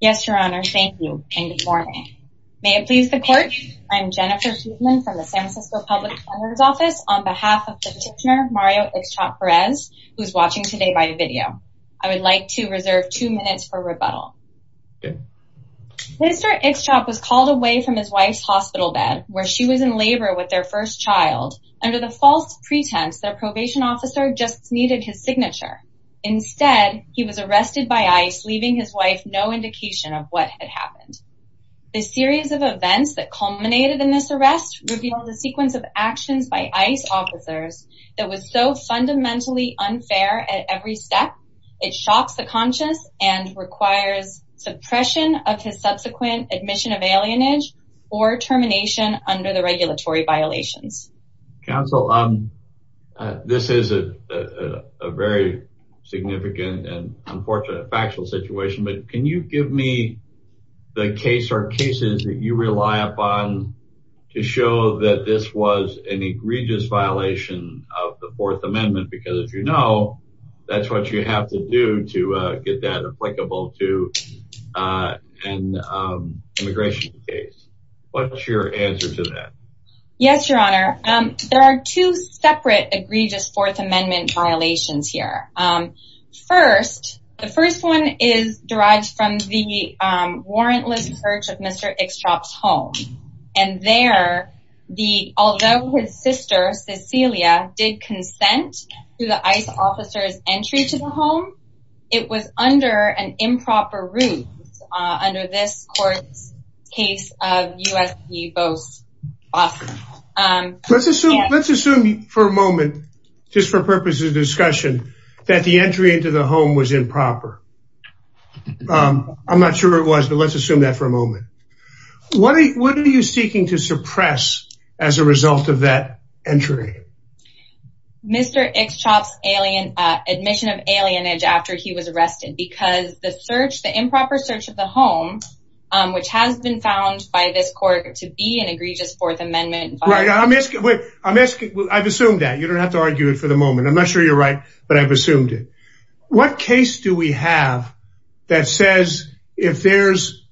Yes Your Honor, thank you and good morning. May it please the court, I'm Jennifer Huebman from the San Francisco Public Defender's Office on behalf of the petitioner Mario Ixchop-Perez who's watching today by video. I would like to reserve two minutes for rebuttal. Mr. Ixchop was called away from his wife's hospital bed where she was in labor with their first child under the false pretense that a probation officer just needed his signature. Instead he was arrested by I.C.E. leaving his wife no indication of what had happened. The series of events that culminated in this arrest revealed a sequence of actions by I.C.E. officers that was so fundamentally unfair at every step it shocks the conscious and requires suppression of his subsequent admission of alienage or termination under the regulatory violations. Counsel, this is a very significant and unfortunate factual situation but can you give me the case or cases that you rely upon to show that this was an egregious violation of the Fourth Amendment because as you know that's what you have to do to get that applicable to an immigration case. What's your answer to that? Yes your honor there are two separate egregious Fourth Amendment violations here. First the first one is derived from the warrantless search of Mr. Ixchop's home and there the although his sister Cecilia did consent to the I.C.E. officers entry to the home it was under an improper rules under this court's case of U.S. v. Boston. Let's assume for a moment just for purposes of discussion that the entry into the home was improper. I'm not sure it was but let's assume that for a moment. What are you seeking to suppress as a result of that entry? Mr. Ixchop's alien admission of alienage after he was arrested because the search the improper search of the home which has been found by this court to be an egregious Fourth Amendment. I'm asking I've assumed that you don't have to argue it for the moment I'm not sure you're right but I've assumed it. What case do we have that says if there's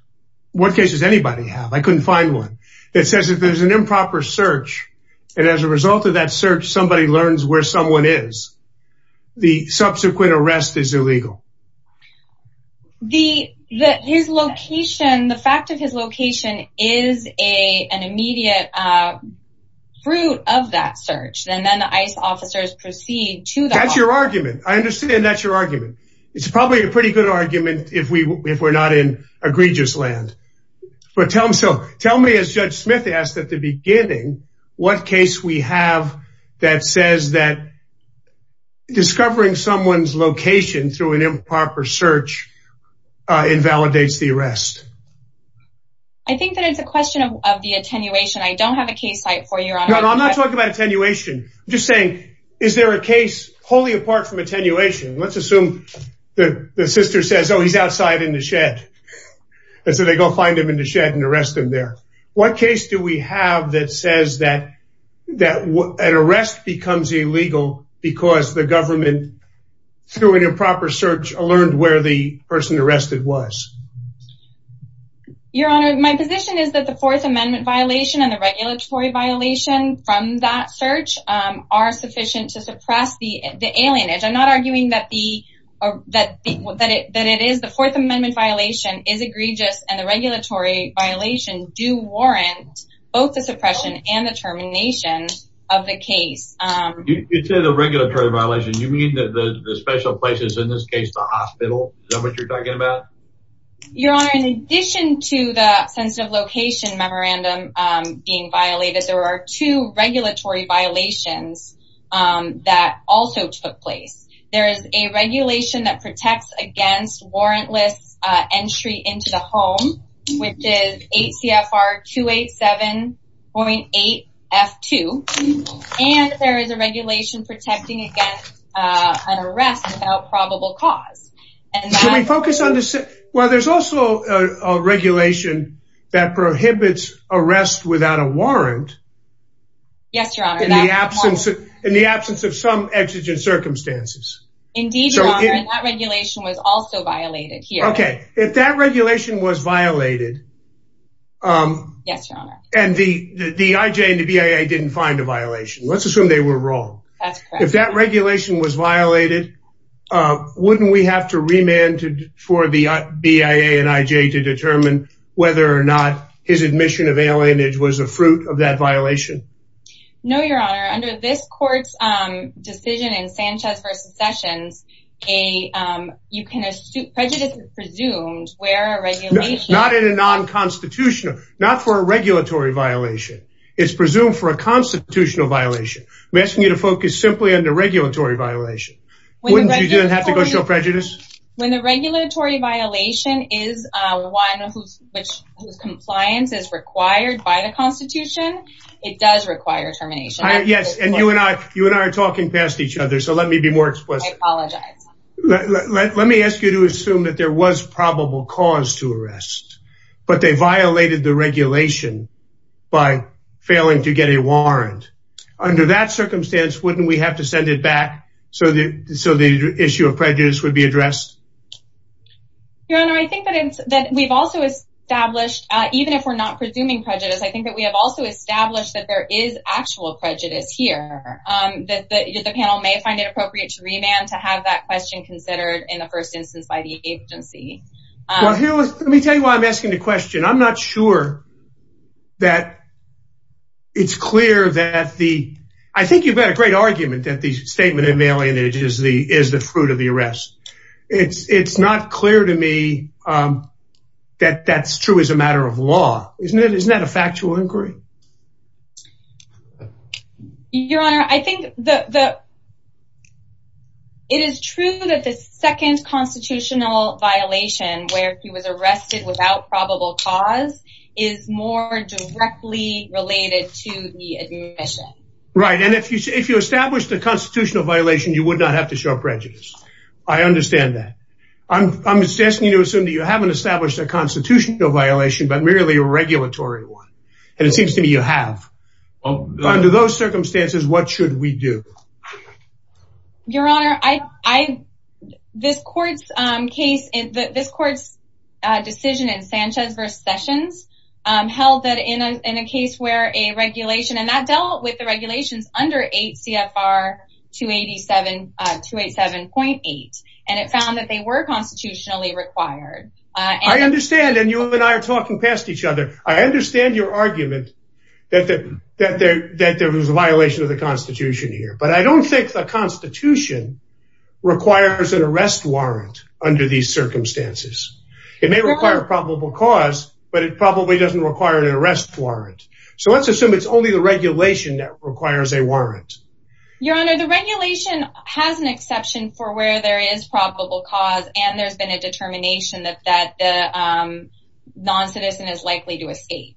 what cases anybody have I couldn't find one that says if there's an improper search and as a result of that search somebody learns where someone is the subsequent arrest is illegal. The that his location the fact of his location is a an immediate fruit of that search and then the I.C.E. officers proceed to that's your argument I understand that's your argument it's probably a pretty good argument if we not in egregious land but tell him so tell me as Judge Smith asked at the beginning what case we have that says that discovering someone's location through an improper search invalidates the arrest. I think that it's a question of the attenuation I don't have a case site for you. I'm not talking about attenuation just saying is there a case wholly apart from attenuation let's outside in the shed and so they go find him in the shed and arrest him there. What case do we have that says that that what an arrest becomes illegal because the government through an improper search learned where the person arrested was. Your Honor my position is that the Fourth Amendment violation and the regulatory violation from that search are sufficient to suppress the alienage I'm not arguing that the that that it that it is the Fourth Amendment violation is egregious and the regulatory violation do warrant both the suppression and the termination of the case. You say the regulatory violation you mean that the special places in this case the hospital is that what you're talking about? Your Honor in addition to the sensitive location memorandum being there is a regulation that protects against warrantless entry into the home which is 8 CFR 287.8 F2 and there is a regulation protecting against an arrest without probable cause. Can we focus on this well there's also a regulation that prohibits arrest without a warrant. Yes your honor. In the absence of in the Indeed your honor that regulation was also violated here. Okay if that regulation was violated and the the IJ and the BIA didn't find a violation let's assume they were wrong. If that regulation was violated wouldn't we have to remand for the BIA and IJ to determine whether or not his admission of alienage was a fruit of that violation? No your honor under this court's decision in Sanchez v. Sessions a you can assume prejudice is presumed where a regulation. Not in a non-constitutional not for a regulatory violation it's presumed for a constitutional violation. I'm asking you to focus simply on the regulatory violation. Wouldn't you have to go show prejudice? When the regulatory violation is one whose compliance is required by the Constitution it does require termination. Yes and you and I you and I are talking past each other so let me be more explicit. Let me ask you to assume that there was probable cause to arrest but they violated the regulation by failing to get a warrant. Under that circumstance wouldn't we have to send it back so that so the issue of prejudice would be addressed? Your honor I think that we've also established even if we're not presuming prejudice I think that we have also established that there is actual prejudice here. That the panel may find it appropriate to remand to have that question considered in the first instance by the agency. Well here let me tell you why I'm asking the question. I'm not sure that it's clear that the I think you've got a great argument that the statement of alienage is the is the fruit of the arrest. It's it's not clear to me that that's true as a matter of law. Isn't it isn't that a factual inquiry? Your honor I think the the it is true that the second constitutional violation where he was arrested without probable cause is more directly related to the admission. Right and if you say if you establish the constitutional violation you would not have to show prejudice. I understand that. I'm just asking you to assume that you haven't established a constitutional violation but merely a regulatory one. And it seems to me you have. Under those circumstances what should we do? Your honor I this court's case is that this court's decision in Sanchez versus Sessions held that in a case where a regulation and that dealt with the regulations under 8 CFR 287 287.8 and it found that they were constitutionally required. I understand and you and I are talking past each other. I understand your argument that that that there that there was a violation of the Constitution here but I don't think the Constitution requires an arrest warrant under these circumstances. It may require probable cause but it probably doesn't require an arrest warrant. So let's assume it's only the regulation that requires a warrant. Your honor the regulation has an exception for where there is probable cause and there's been a determination that that the non-citizen is likely to escape.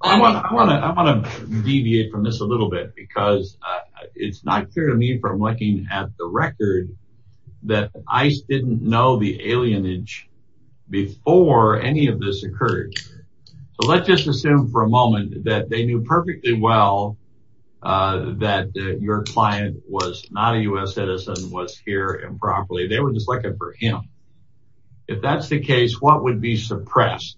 I want to deviate from this a little bit because it's not clear to me from looking at the record that ICE didn't know the alienage before any of this occurred. So let's just assume for a moment that they knew perfectly well that your client was not a US citizen was here improperly. They were just looking for him. If that's the case what would be suppressed?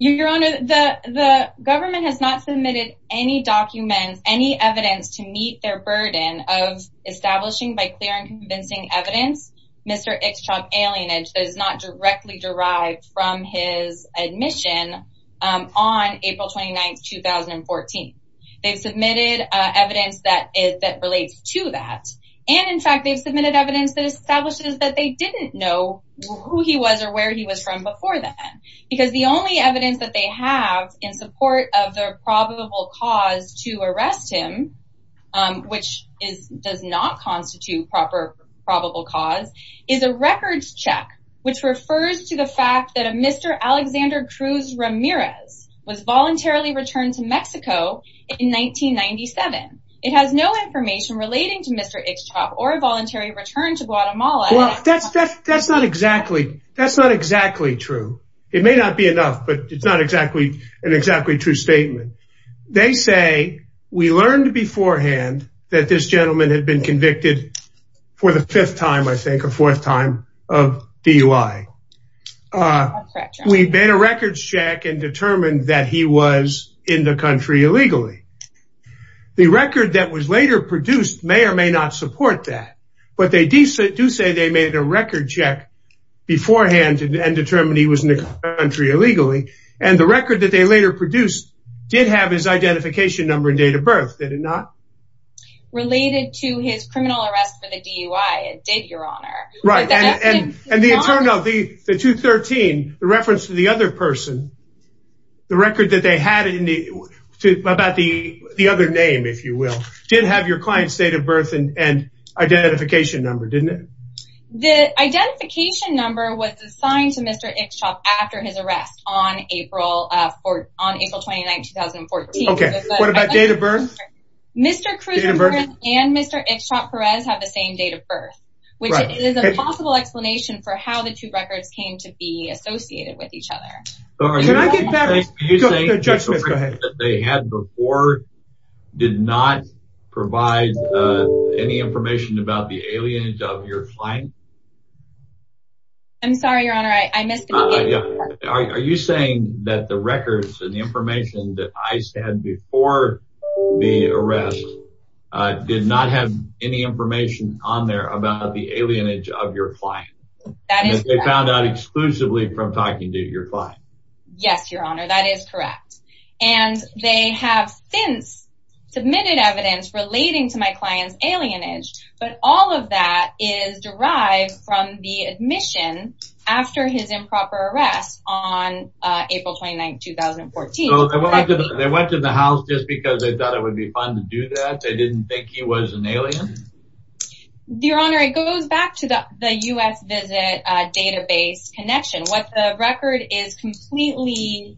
Your honor the the government has not submitted any documents any evidence to meet their burden of establishing by clear and convincing evidence Mr. X Trump alienage is not directly derived from his admission on April 29th 2014. They've submitted evidence that is that relates to that and in fact they've submitted evidence that establishes that they didn't know who he was or where he was from before that because the only evidence that they have in support of their probable cause to arrest him which is does not constitute proper probable cause is a records check which refers to the fact that a Mr. Alexander Cruz Ramirez was voluntarily returned to Mr. X Trump or a voluntary return to Guatemala. Well that's that's that's not exactly that's not exactly true. It may not be enough but it's not exactly an exactly true statement. They say we learned beforehand that this gentleman had been convicted for the fifth time I think a fourth time of DUI. We made a records check and determined that he was in the country illegally. The record that was later produced may or may not support that but they do say they made a record check beforehand and determined he was in the country illegally and the record that they later produced did have his identification number and date of birth did it not? Related to his criminal arrest for the DUI it did your honor. Right and the internal the 213 the reference to the other person the record that they had in the about the the other name if you will didn't have your client's date of birth and identification number didn't it? The identification number was assigned to Mr. Ixtchop after his arrest on April 4th on April 29, 2014. Okay what about date of birth? Mr. Cruz Ramirez and Mr. Ixtchop Perez have the same date of birth which is a possible explanation for how the two records came to be associated with each other. They had before did not provide any information about the alienage of your client? I'm sorry your honor I missed the beginning. Are you saying that the records and the information that I said before the arrest did not have any information on there about the alienage of your client? They found out exclusively from talking to your client? Yes your honor that is correct and they have since submitted evidence relating to my client's alienage but all of that is derived from the admission after his improper arrest on April 29, 2014. They went to the house just because they thought it would be fun to do that they didn't think he was an alien? Your honor it goes back to the U.S. visit database connection what the record is completely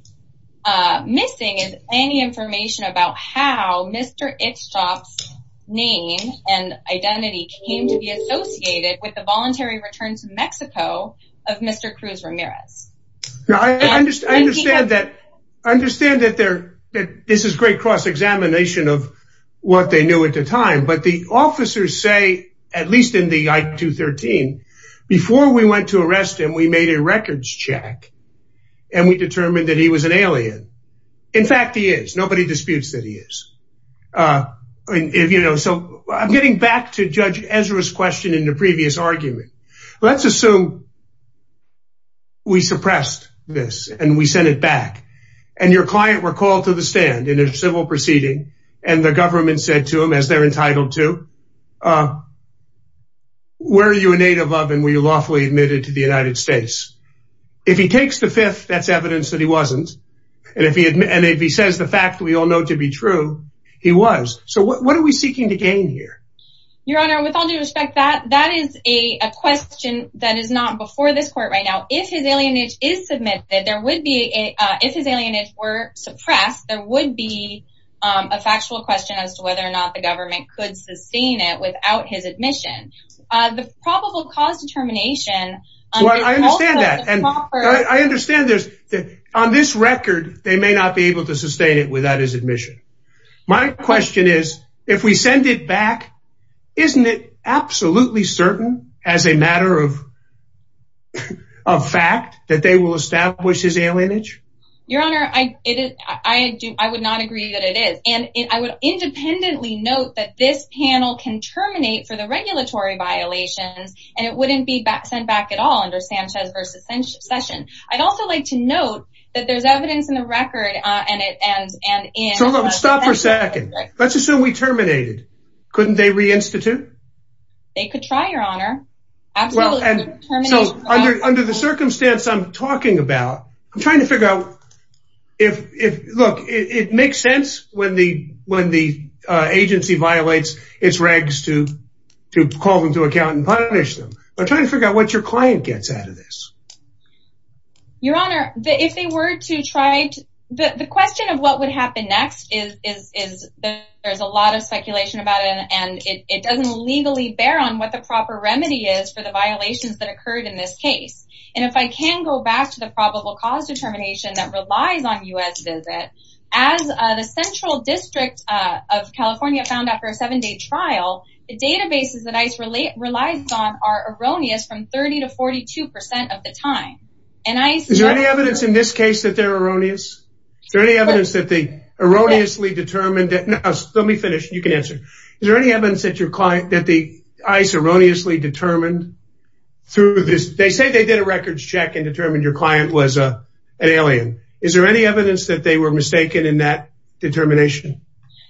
missing is any information about how Mr. Ixtchop's name and identity came to be associated with the voluntary return to Mexico of Mr. Cruz Ramirez? I understand that this is great cross-examination of what they knew at the time but the before we went to arrest him we made a records check and we determined that he was an alien in fact he is nobody disputes that he is. I'm getting back to Judge Ezra's question in the previous argument let's assume we suppressed this and we sent it back and your client were called to the stand in a civil proceeding and the government said to where are you a native of and were you lawfully admitted to the United States? If he takes the fifth that's evidence that he wasn't and if he admits and if he says the fact we all know to be true he was so what are we seeking to gain here? Your honor with all due respect that that is a question that is not before this court right now if his alienage is submitted there would be a if his alienage were suppressed there would be a factual question as to whether or not the government could sustain it without his admission. The probable cause determination well I understand that and I understand there's on this record they may not be able to sustain it without his admission. My question is if we send it back isn't it absolutely certain as a matter of of fact that they will establish his alienage? Your honor I it is I do I would not agree that it is and I would independently note that this panel can terminate for the regulatory violations and it wouldn't be back sent back at all under Sanchez versus Session. I'd also like to note that there's evidence in the record uh and it and and in. Stop for a second let's assume we terminated couldn't they reinstitute? They could try your honor absolutely. So under under the circumstance I'm talking about I'm trying to figure out if if look it makes sense when the when the agency violates its regs to to call them to account and punish them. I'm trying to figure out what your client gets out of this. Your honor the if they were to try to the the question of what would happen next is is is there's a lot of speculation about it and it it doesn't legally bear on what the proper remedy is for the violations that occurred in this case. And if I can go back to the probable cause determination that relies on U.S. visit as the central district of California found after a seven-day trial the databases that ICE relate relies on are erroneous from 30 to 42 percent of the time and I. Is there any evidence in this case that they're erroneous? Is there any evidence that they erroneously determined that let me finish you can answer. Is there any evidence that your client that the ICE erroneously determined through this they say they did a records check and determined your client was a an alien. Is there any evidence that they were mistaken in that determination?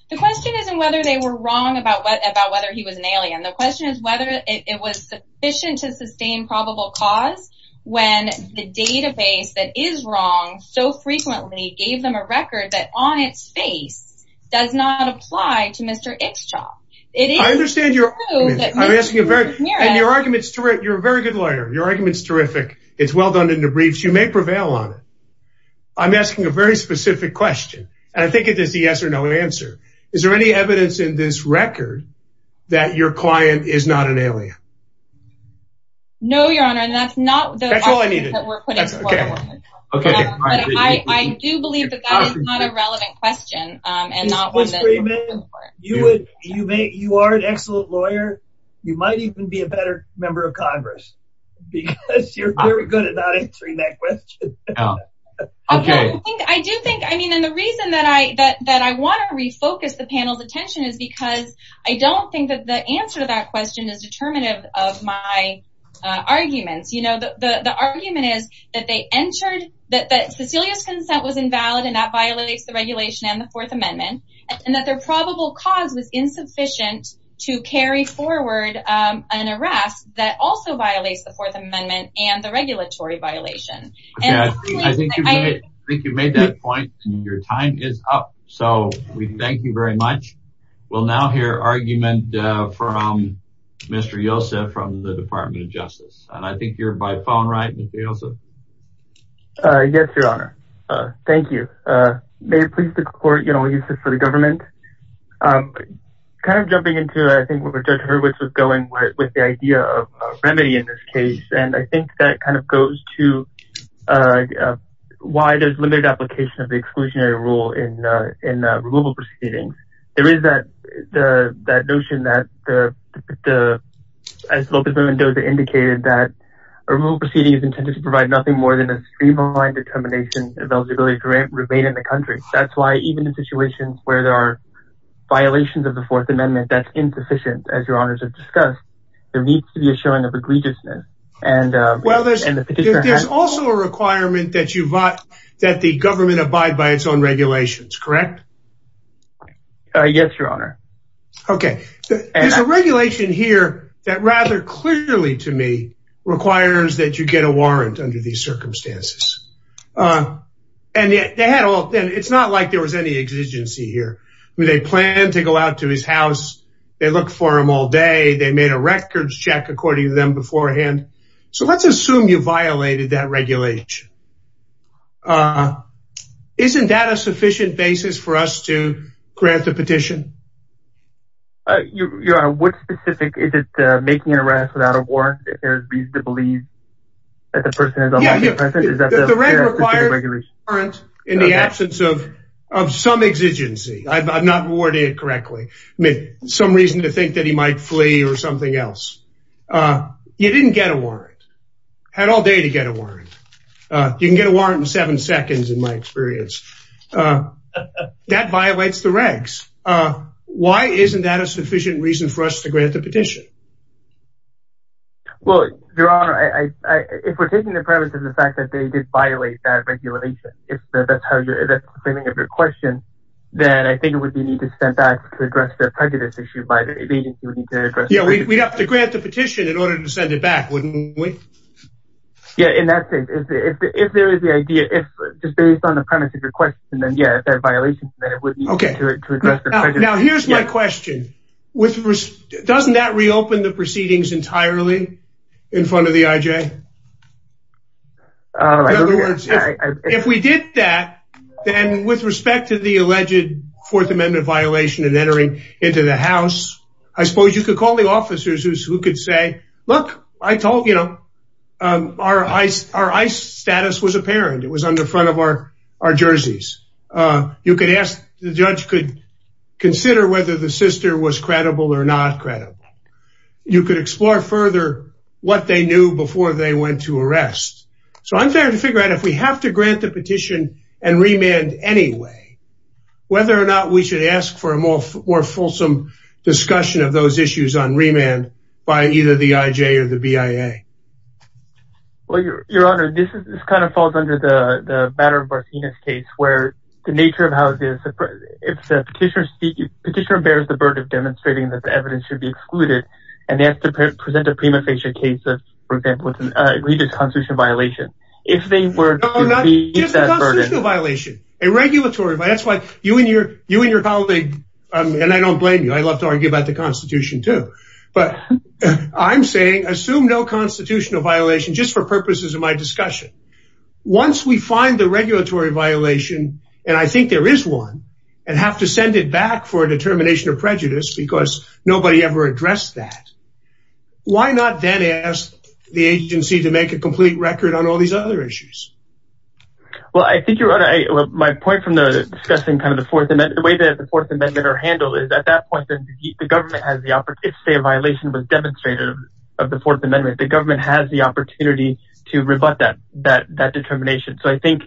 The question isn't whether they were wrong about what about whether he was an alien. The question is whether it was sufficient to sustain probable cause when the database that is wrong so frequently gave them a record that on its face does not apply to Mr. Ikshaw. I understand your I'm asking a very and your argument is terrific. You're a very good lawyer. Your argument is terrific. It's well done in the briefs. You may prevail on it. I'm asking a very specific question and I think it is a yes or no answer. Is there any evidence in this record that your client is not an alien? I do believe that that is not a relevant question. You are an excellent lawyer. You might even be a better member of Congress because you're very good at not answering that question. I do think I mean and the reason that I want to refocus the panel's attention is because I don't think that the answer to that question is determinative of my arguments. The argument is that they entered that Cecilia's consent was invalid and that violates the regulation and the Fourth Amendment and that their probable cause was insufficient to carry forward an arrest that also violates the Fourth Amendment and the regulatory violation. I think you made that point and your time is up so we thank you very much. We'll now hear argument from Mr. Yosa from the Department of Justice and I think you're by phone, right? Yes, your honor. Thank you. May it please the court, you know, we use this for the government. Kind of jumping into I think what Judge Hurwitz was going with the idea of remedy in this case and I think that kind of goes to why there's limited application of the exclusionary rule in removal proceedings. There is that notion that as Lopez Mendoza indicated that a removal proceeding is intended to provide nothing more than a streamlined determination of eligibility to remain in the country. That's why even in situations where there are violations of the Fourth Amendment that's insufficient as your honors have discussed, there needs to be a showing of egregiousness. There's also a requirement that the government abide by its own regulations, correct? Yes, your honor. Okay, there's a regulation here that rather clearly to me requires that you get a warrant under these circumstances. It's not like there was any exigency here. They plan to go out to his house, they look for him all day, they made a records check according to them beforehand. So let's assume you violated that regulation. Isn't that a sufficient basis for us to grant the petition? Your honor, what specific, is it making an arrest without a warrant if there's reason to believe that the person is unlawfully present? The reg requires a warrant in the absence of some exigency. I'm not warning it correctly. Some reason to think that he might flee or something else. You didn't get a warrant, had all day to get a warrant. You can get a warrant in seven seconds in my experience. That violates the regs. Why isn't that a sufficient reason for us to grant the petition? Well, your honor, if we're taking the premise of the fact that they did violate that regulation, if that's how you're claiming of your question, then I think it would be need to grant the petition in order to send it back, wouldn't we? Yeah, in that case, if there is the idea, if just based on the premise of your question, then yeah, if that violation, then it would be okay. Now here's my question. Doesn't that reopen the proceedings entirely in front of the IJ? In other words, if we did that, then with respect to the alleged fourth amendment violation and entering into the house, I suppose you could call the officers who could say, look, I told you, you know, our ICE status was apparent. It was on the front of our jerseys. You could ask, the judge could consider whether the sister was credible or not credible. You could explore further what they knew before they went to arrest. So I'm trying to figure out if we have to grant the petition and remand anyway, whether or not we should ask for a more fulsome discussion of those issues on remand by either the IJ or the BIA. Well, your honor, this kind of falls under the matter of Barsina's case where the nature of how the petitioner bears the burden of demonstrating that the evidence should be excluded, and they have to present a prima facie case of, for example, an egregious constitutional violation. If they were... No, not just a constitutional violation, a regulatory violation. That's why you and your colleague, and I don't blame you. I love to argue about the constitution too, but I'm saying assume no constitutional violation just for purposes of my discussion. Once we find the regulatory violation, and I think there is one, and have to send it back for a determination of prejudice because nobody ever addressed that, why not then ask the agency to make a complete record on all these other issues? Well, I think you're right. My point from discussing kind of the Fourth Amendment, the way that the Fourth Amendment are handled is at that point, if a violation was demonstrated of the Fourth Amendment, the government has the opportunity to rebut that determination. So I think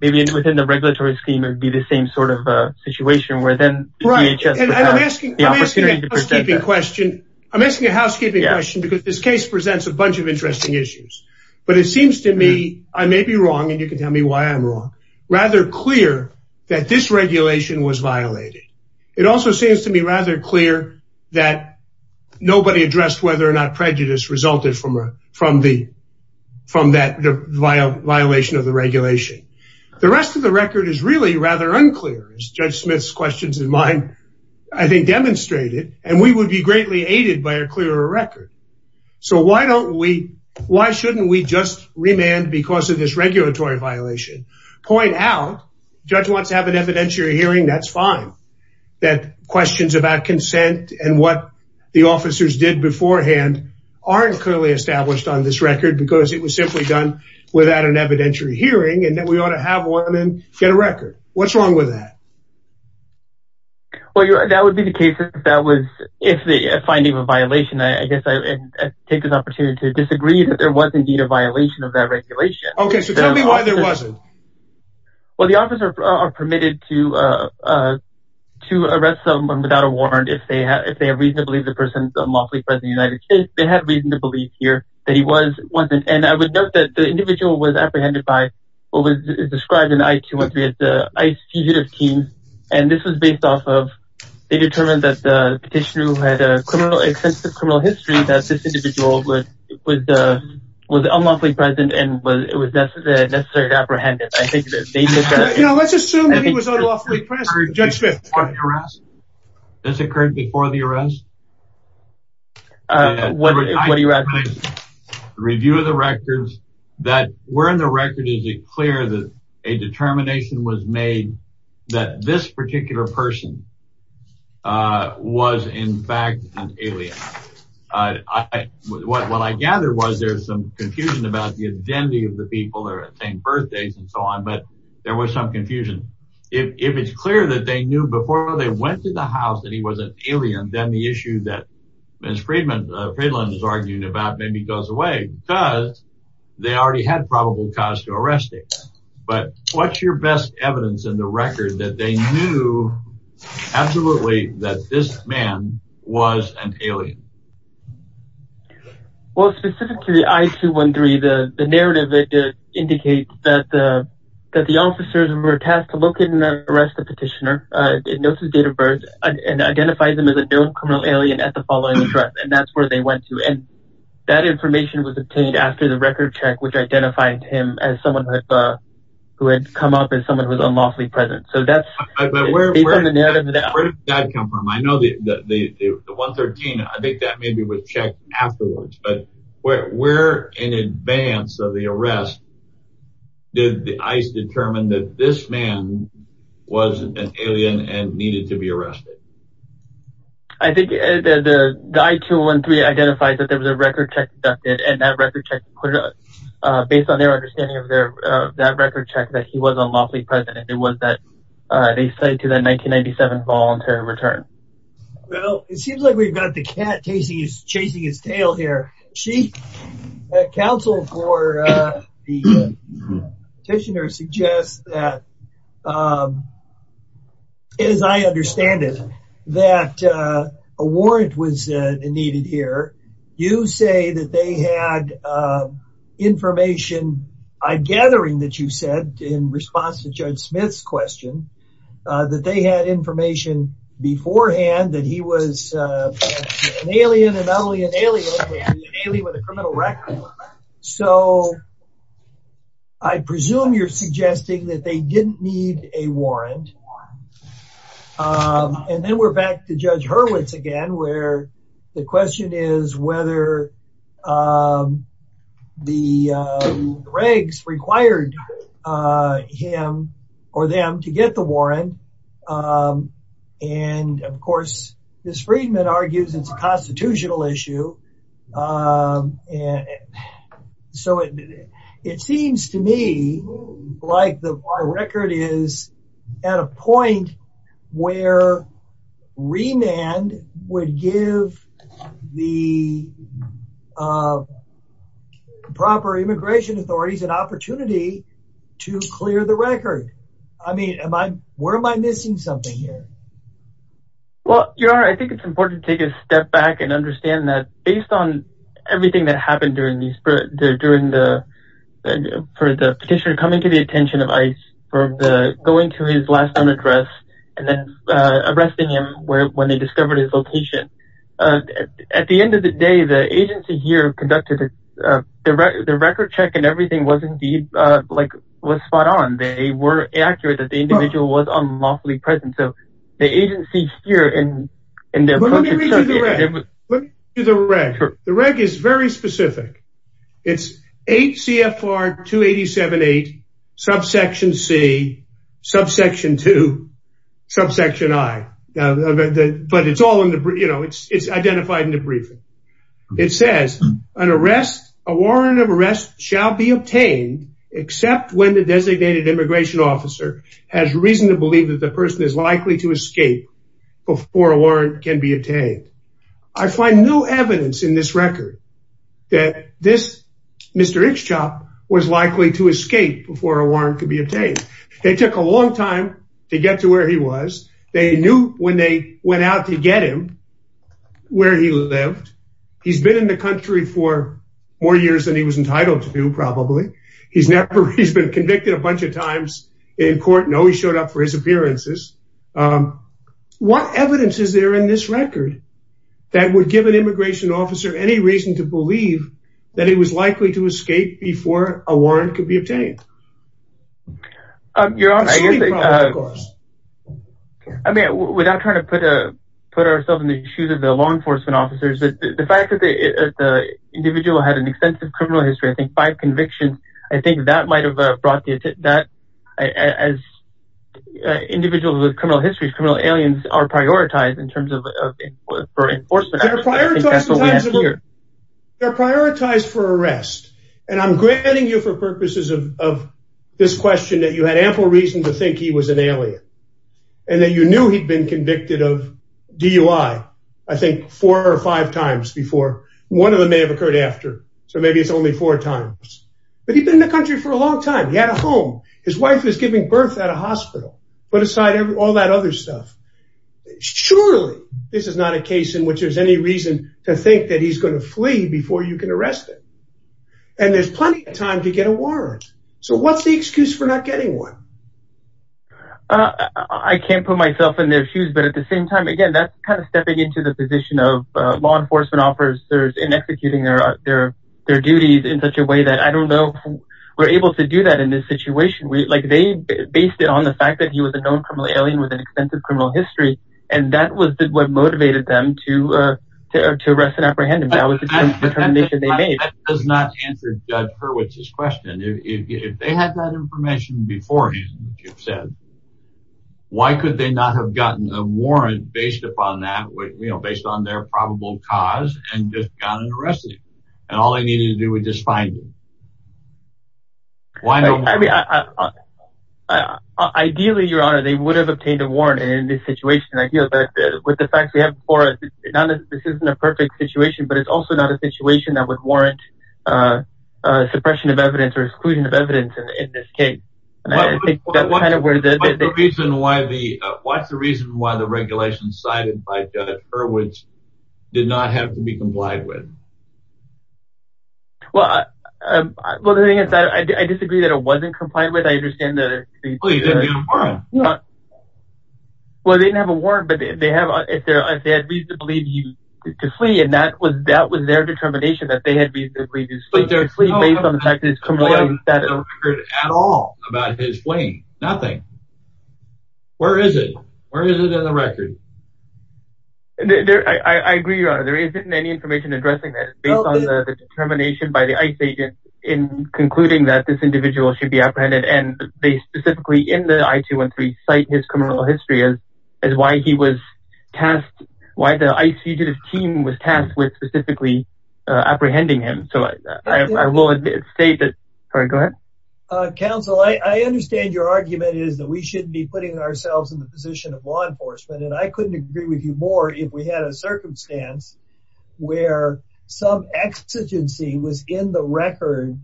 maybe within the regulatory scheme, it'd the same sort of situation where then the DHS would have the opportunity to present that. I'm asking a housekeeping question because this case presents a bunch of interesting issues, but it seems to me, I may be wrong, and you can tell me why I'm wrong, rather clear that this regulation was violated. It also seems to me rather clear that nobody addressed whether or not prejudice resulted from that violation of the regulation. The rest of the record is really unclear, as Judge Smith's questions and mine, I think, demonstrated, and we would be greatly aided by a clearer record. So why don't we, why shouldn't we just remand because of this regulatory violation, point out, judge wants to have an evidentiary hearing, that's fine, that questions about consent and what the officers did beforehand aren't clearly established on this record because it was simply done without an evidentiary hearing, and then we ought to have one and get a record. What's wrong with that? Well, that would be the case if that was, if the finding of a violation, I guess I take this opportunity to disagree that there was indeed a violation of that regulation. Okay, so tell me why there wasn't. Well, the officer are permitted to arrest someone without a warrant if they have reason to believe the person is unlawfully present in the United States, they have reason to believe here that he was, wasn't, and I would note that the individual was apprehended by what was described in the I-213 as the ICE fugitive team, and this was based off of, they determined that the petitioner who had a criminal, extensive criminal history, that this individual would, would, was unlawfully present and was, it was necessary to apprehend him. I think that they, you know, let's assume that he was unlawfully present. Judge Smith. This occurred before the arrest? What do you add, please? Review of the records that were in the record, is it clear that a determination was made that this particular person was in fact an alien? What I gathered was there's some confusion about the identity of the people that are saying birthdays and so on, but there was some confusion. If it's clear that they knew before they went to the house that he was an alien, then the issue is clear. Ms. Fredlund is arguing about maybe he goes away because they already had probable cause to arrest him. But what's your best evidence in the record that they knew absolutely that this man was an alien? Well, specific to the I-213, the narrative indicates that the officers were tasked to look at the following address and that's where they went to. And that information was obtained after the record check, which identified him as someone who had come up as someone who was unlawfully present. So that's where that comes from. I know the, the, the, the 113, I think that maybe was checked afterwards, but where, where in advance of the arrest, did the ICE determine that this man was an alien and needed to be arrested? I think the I-213 identified that there was a record check conducted and that record check, based on their understanding of that record check, that he was unlawfully present. And it was that they say to that 1997 voluntary return. Well, it seems like we've got the cat chasing his tail here. She, the counsel for the petitioner suggests that, as I understand it, that a warrant was needed here. You say that they had information, a gathering that you said in response to Judge Smith's question, that they had information beforehand that he was an alien and not only an alien, with a criminal record. So I presume you're suggesting that they didn't need a warrant. And then we're back to Judge Hurwitz again, where the question is whether the regs required him or them to get the warrant. And of course, this freedman argues it's a constitutional issue. And so it seems to me like the record is at a point where remand would give the proper immigration authorities an opportunity to clear the record. I mean, where am I missing something here? Well, Your Honor, I think it's important to take a step back and understand that, based on everything that happened during the petitioner coming to the attention of ICE, going to his last known address, and then arresting him when they discovered his location. At the end of the day, the agency here conducted the record check and everything like was spot on. They were accurate that the individual was unlawfully present. So the agency here and... Let me read you the reg. The reg is very specific. It's 8 CFR 287.8, subsection C, subsection 2, subsection I. But it's all in the, you know, it's identified in the briefing. It says, an arrest, a warrant of arrest shall be obtained except when the designated immigration officer has reason to believe that the person is likely to escape before a warrant can be obtained. I find no evidence in this record that this Mr. Ikschop was likely to escape before a warrant could be obtained. It took a long time to get to where he was. They knew when they went out to get him, where he lived. He's been in the country for more years than he was entitled to do, probably. He's never, he's been convicted a bunch of times in court. No, he showed up for his appearances. What evidence is there in this record that would give an immigration officer any reason to believe that he was likely to escape before a warrant could be obtained? I mean, without trying to put a, put ourselves in the shoes of the law enforcement officers, the fact that the individual had an extensive criminal history, I think five convictions, I think that might have brought the, that as individuals with criminal histories, criminal aliens are prioritized in terms of, for enforcement. They're prioritized for arrest. And I'm granting you for purposes of this question that you had ample reason to think he was an alien and that you knew he'd been convicted of DUI, I think four or five times before. One of them may have occurred after, so maybe it's only four times. But he'd been in the country for a long time. He had a home. His wife was giving birth at a hospital. Put aside reason to think that he's going to flee before you can arrest him. And there's plenty of time to get a warrant. So what's the excuse for not getting one? I can't put myself in their shoes, but at the same time, again, that's kind of stepping into the position of law enforcement officers in executing their duties in such a way that I don't know we're able to do that in this situation. Like they based it on the fact that he was a known alien with an extensive criminal history. And that was what motivated them to arrest and apprehend him. That was the determination they made. That does not answer Judge Hurwitz's question. If they had that information before you said, why could they not have gotten a warrant based upon that, you know, based on their probable cause and just gotten arrested? And all they would have obtained a warrant in this situation. I feel that with the facts we have before us, this isn't a perfect situation, but it's also not a situation that would warrant suppression of evidence or exclusion of evidence in this case. What's the reason why the regulations cited by Judge Hurwitz did not have to be complied with? Well, the thing is that I disagree that it wasn't complied with. I understand that. Well, they didn't have a warrant, but they had reason to flee. And that was their determination that they had reason to flee based on the fact that it's complied with that record at all about his fleeing. Nothing. Where is it? Where is it in the record? I agree, Your Honor. There isn't any information addressing that. It's based on the determination by the ICE agents in concluding that this individual should be apprehended. And they specifically in the I-213 cite his criminal history as why he was tasked, why the ICE fugitive team was tasked with specifically apprehending him. So I will state that. Sorry, go ahead. Counsel, I understand your argument is that we shouldn't be putting ourselves in the position of law enforcement. And I couldn't agree with you more if we had a circumstance where some exigency was in the record.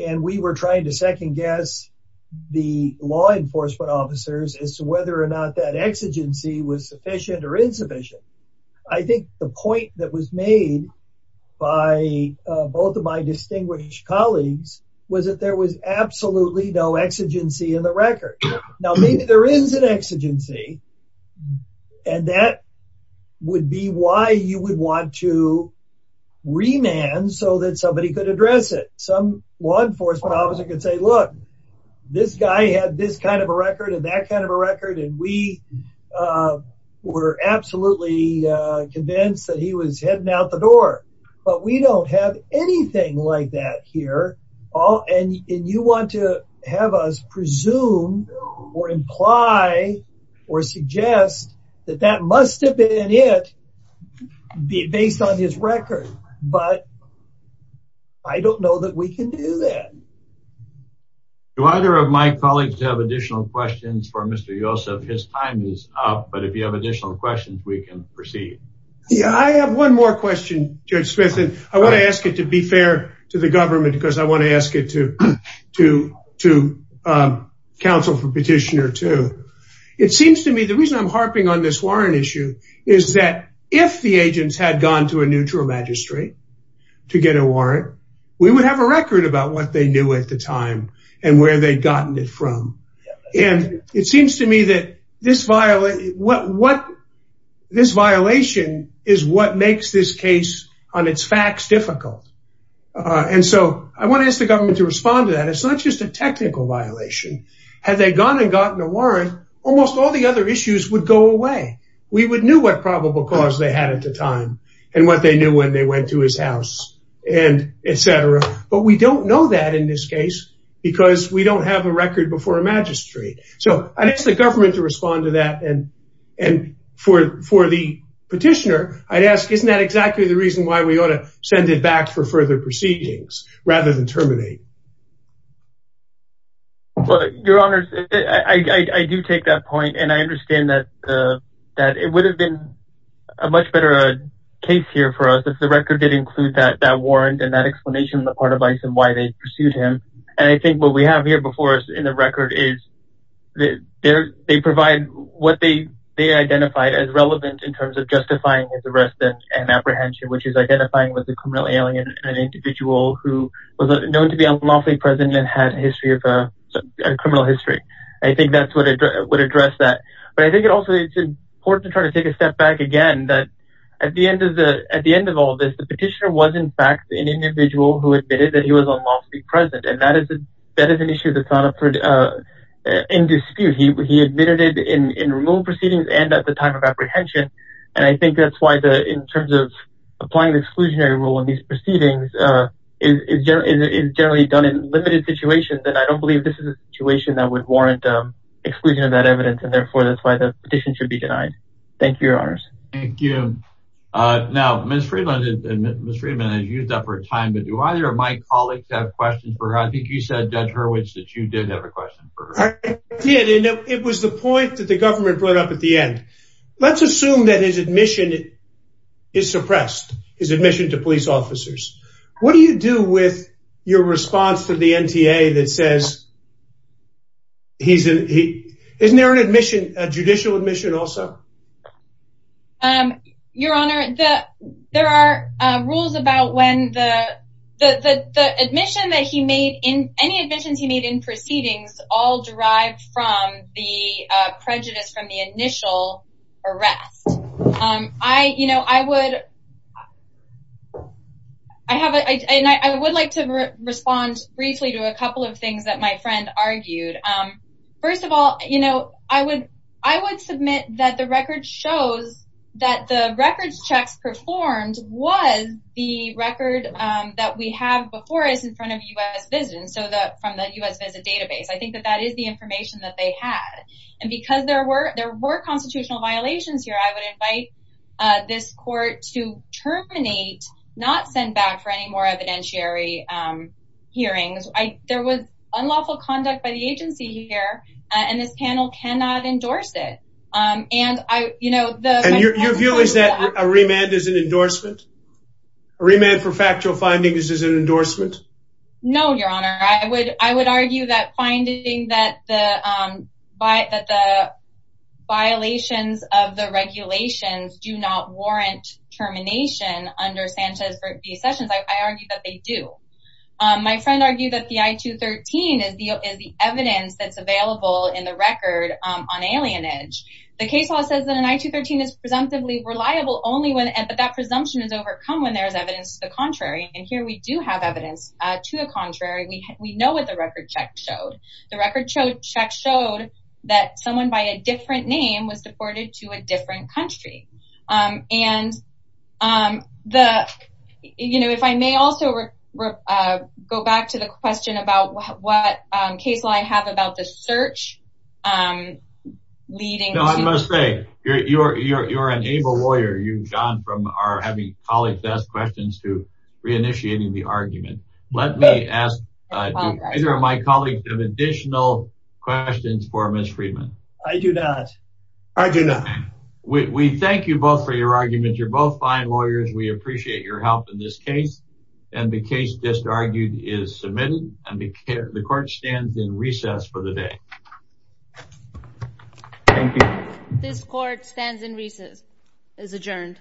And we were trying to second guess the law enforcement officers as to whether or not that exigency was sufficient or insufficient. I think the point that was made by both of my distinguished colleagues was that there was absolutely no exigency in the record. Now, maybe there is an exigency. And that would be why you would want to remand so that somebody could address it. Some law enforcement officer could say, look, this guy had this kind of a record and that kind of a record. And we were absolutely convinced that he was heading out the door. But we don't have anything like that here. And you want to have us presume or imply or suggest that that must have been it based on his record. But I don't know that we can do that. Do either of my colleagues have additional questions for Mr. Yosef? His time is up. But if you have additional questions, we can proceed. Yeah, I have one more question, Judge Smith. And I want to ask it to be fair to the government because I want to ask it to counsel for petitioner too. It seems to me the reason I'm harping on this warrant issue is that if the agents had gone to a neutral magistrate to get a warrant, we would have a record about what they knew at the time and where they'd gotten it from. And it seems to me that this violation is what makes this case on its facts difficult. And so I want to ask the government to respond to that. It's not just a technical violation. Had they gone and gotten a warrant, almost all the other issues would go away. We would know what probable cause they had at the time and what they knew when they went to his house and etc. But we don't know that in this case, because we don't have a record before a magistrate. So I'd ask the government to respond to that. And for the petitioner, I'd ask isn't that exactly the reason why we ought to send it back for further proceedings rather than terminate? Well, Your Honor, I do take that point. And I understand that it would have been a much better case here for us if the record did include that warrant and that explanation on the part of Bison why they pursued him. And I think what we have here before us in the record is they provide what they identified as relevant in terms of justifying his arrest and apprehension, which is identifying with a criminal alien, an individual who was known to be unlawfully present and had a criminal history. I think that's what would address that. But I think it also is important to try to take a step back again that at the end of all this, the petitioner was in fact an individual who admitted that he was unlawfully present. And that is an issue that's not in dispute. He admitted it in remote proceedings and at the time of apprehension. And I think that's why in terms of applying the exclusionary rule in these proceedings is generally done in limited situations. And I don't believe this is a situation that would warrant exclusion of that evidence. And therefore, that's why the petition should be denied. Thank you, Your Honors. Thank you. Now, Ms. Friedman has used up her time. But do either of my colleagues have questions for her? I think you said, Judge Hurwitz, that you did have a question for her. I did. And it was the point that the government brought up at the end. Let's assume that his admission is suppressed, his admission to police officers. What do you do with your response to the NTA that says, isn't there an admission, a judicial admission also? Your Honor, there are rules about when the admission that he made in any admissions he arrived from the prejudice from the initial arrest. I would like to respond briefly to a couple of things that my friend argued. First of all, I would submit that the record shows that the records checks performed was the record that we have before us in front of U.S. Visits, from the U.S. Visit database. I think that that is the information that they had. And because there were constitutional violations here, I would invite this court to terminate, not send back for any more evidentiary hearings. There was unlawful conduct by the agency here, and this panel cannot endorse it. Your view is that a remand is an endorsement? A remand for factual findings is an endorsement? No, Your Honor. I would argue that finding that the violations of the regulations do not warrant termination under Sanchez v. Sessions, I argue that they do. My friend argued that the I-213 is the evidence that's available in the record on alienage. The case law says that an I-213 is presumptively reliable only when that presumption is overcome when there is evidence to the contrary. And here we do have evidence to the contrary. We know what the record check showed. The record check showed that someone by a different name was deported to a different country. And if I may also go back to the question about what case law I have about the search I'm leading. No, I must say you're an able lawyer. You, John, from our having colleagues ask questions to re-initiating the argument. Let me ask either of my colleagues have additional questions for Ms. Friedman. I do not. I do not. We thank you both for your arguments. You're both fine lawyers. We appreciate your help in this case. And the case just argued is submitted, and the court stands in recess for the day. Thank you. This court stands in recess, is adjourned.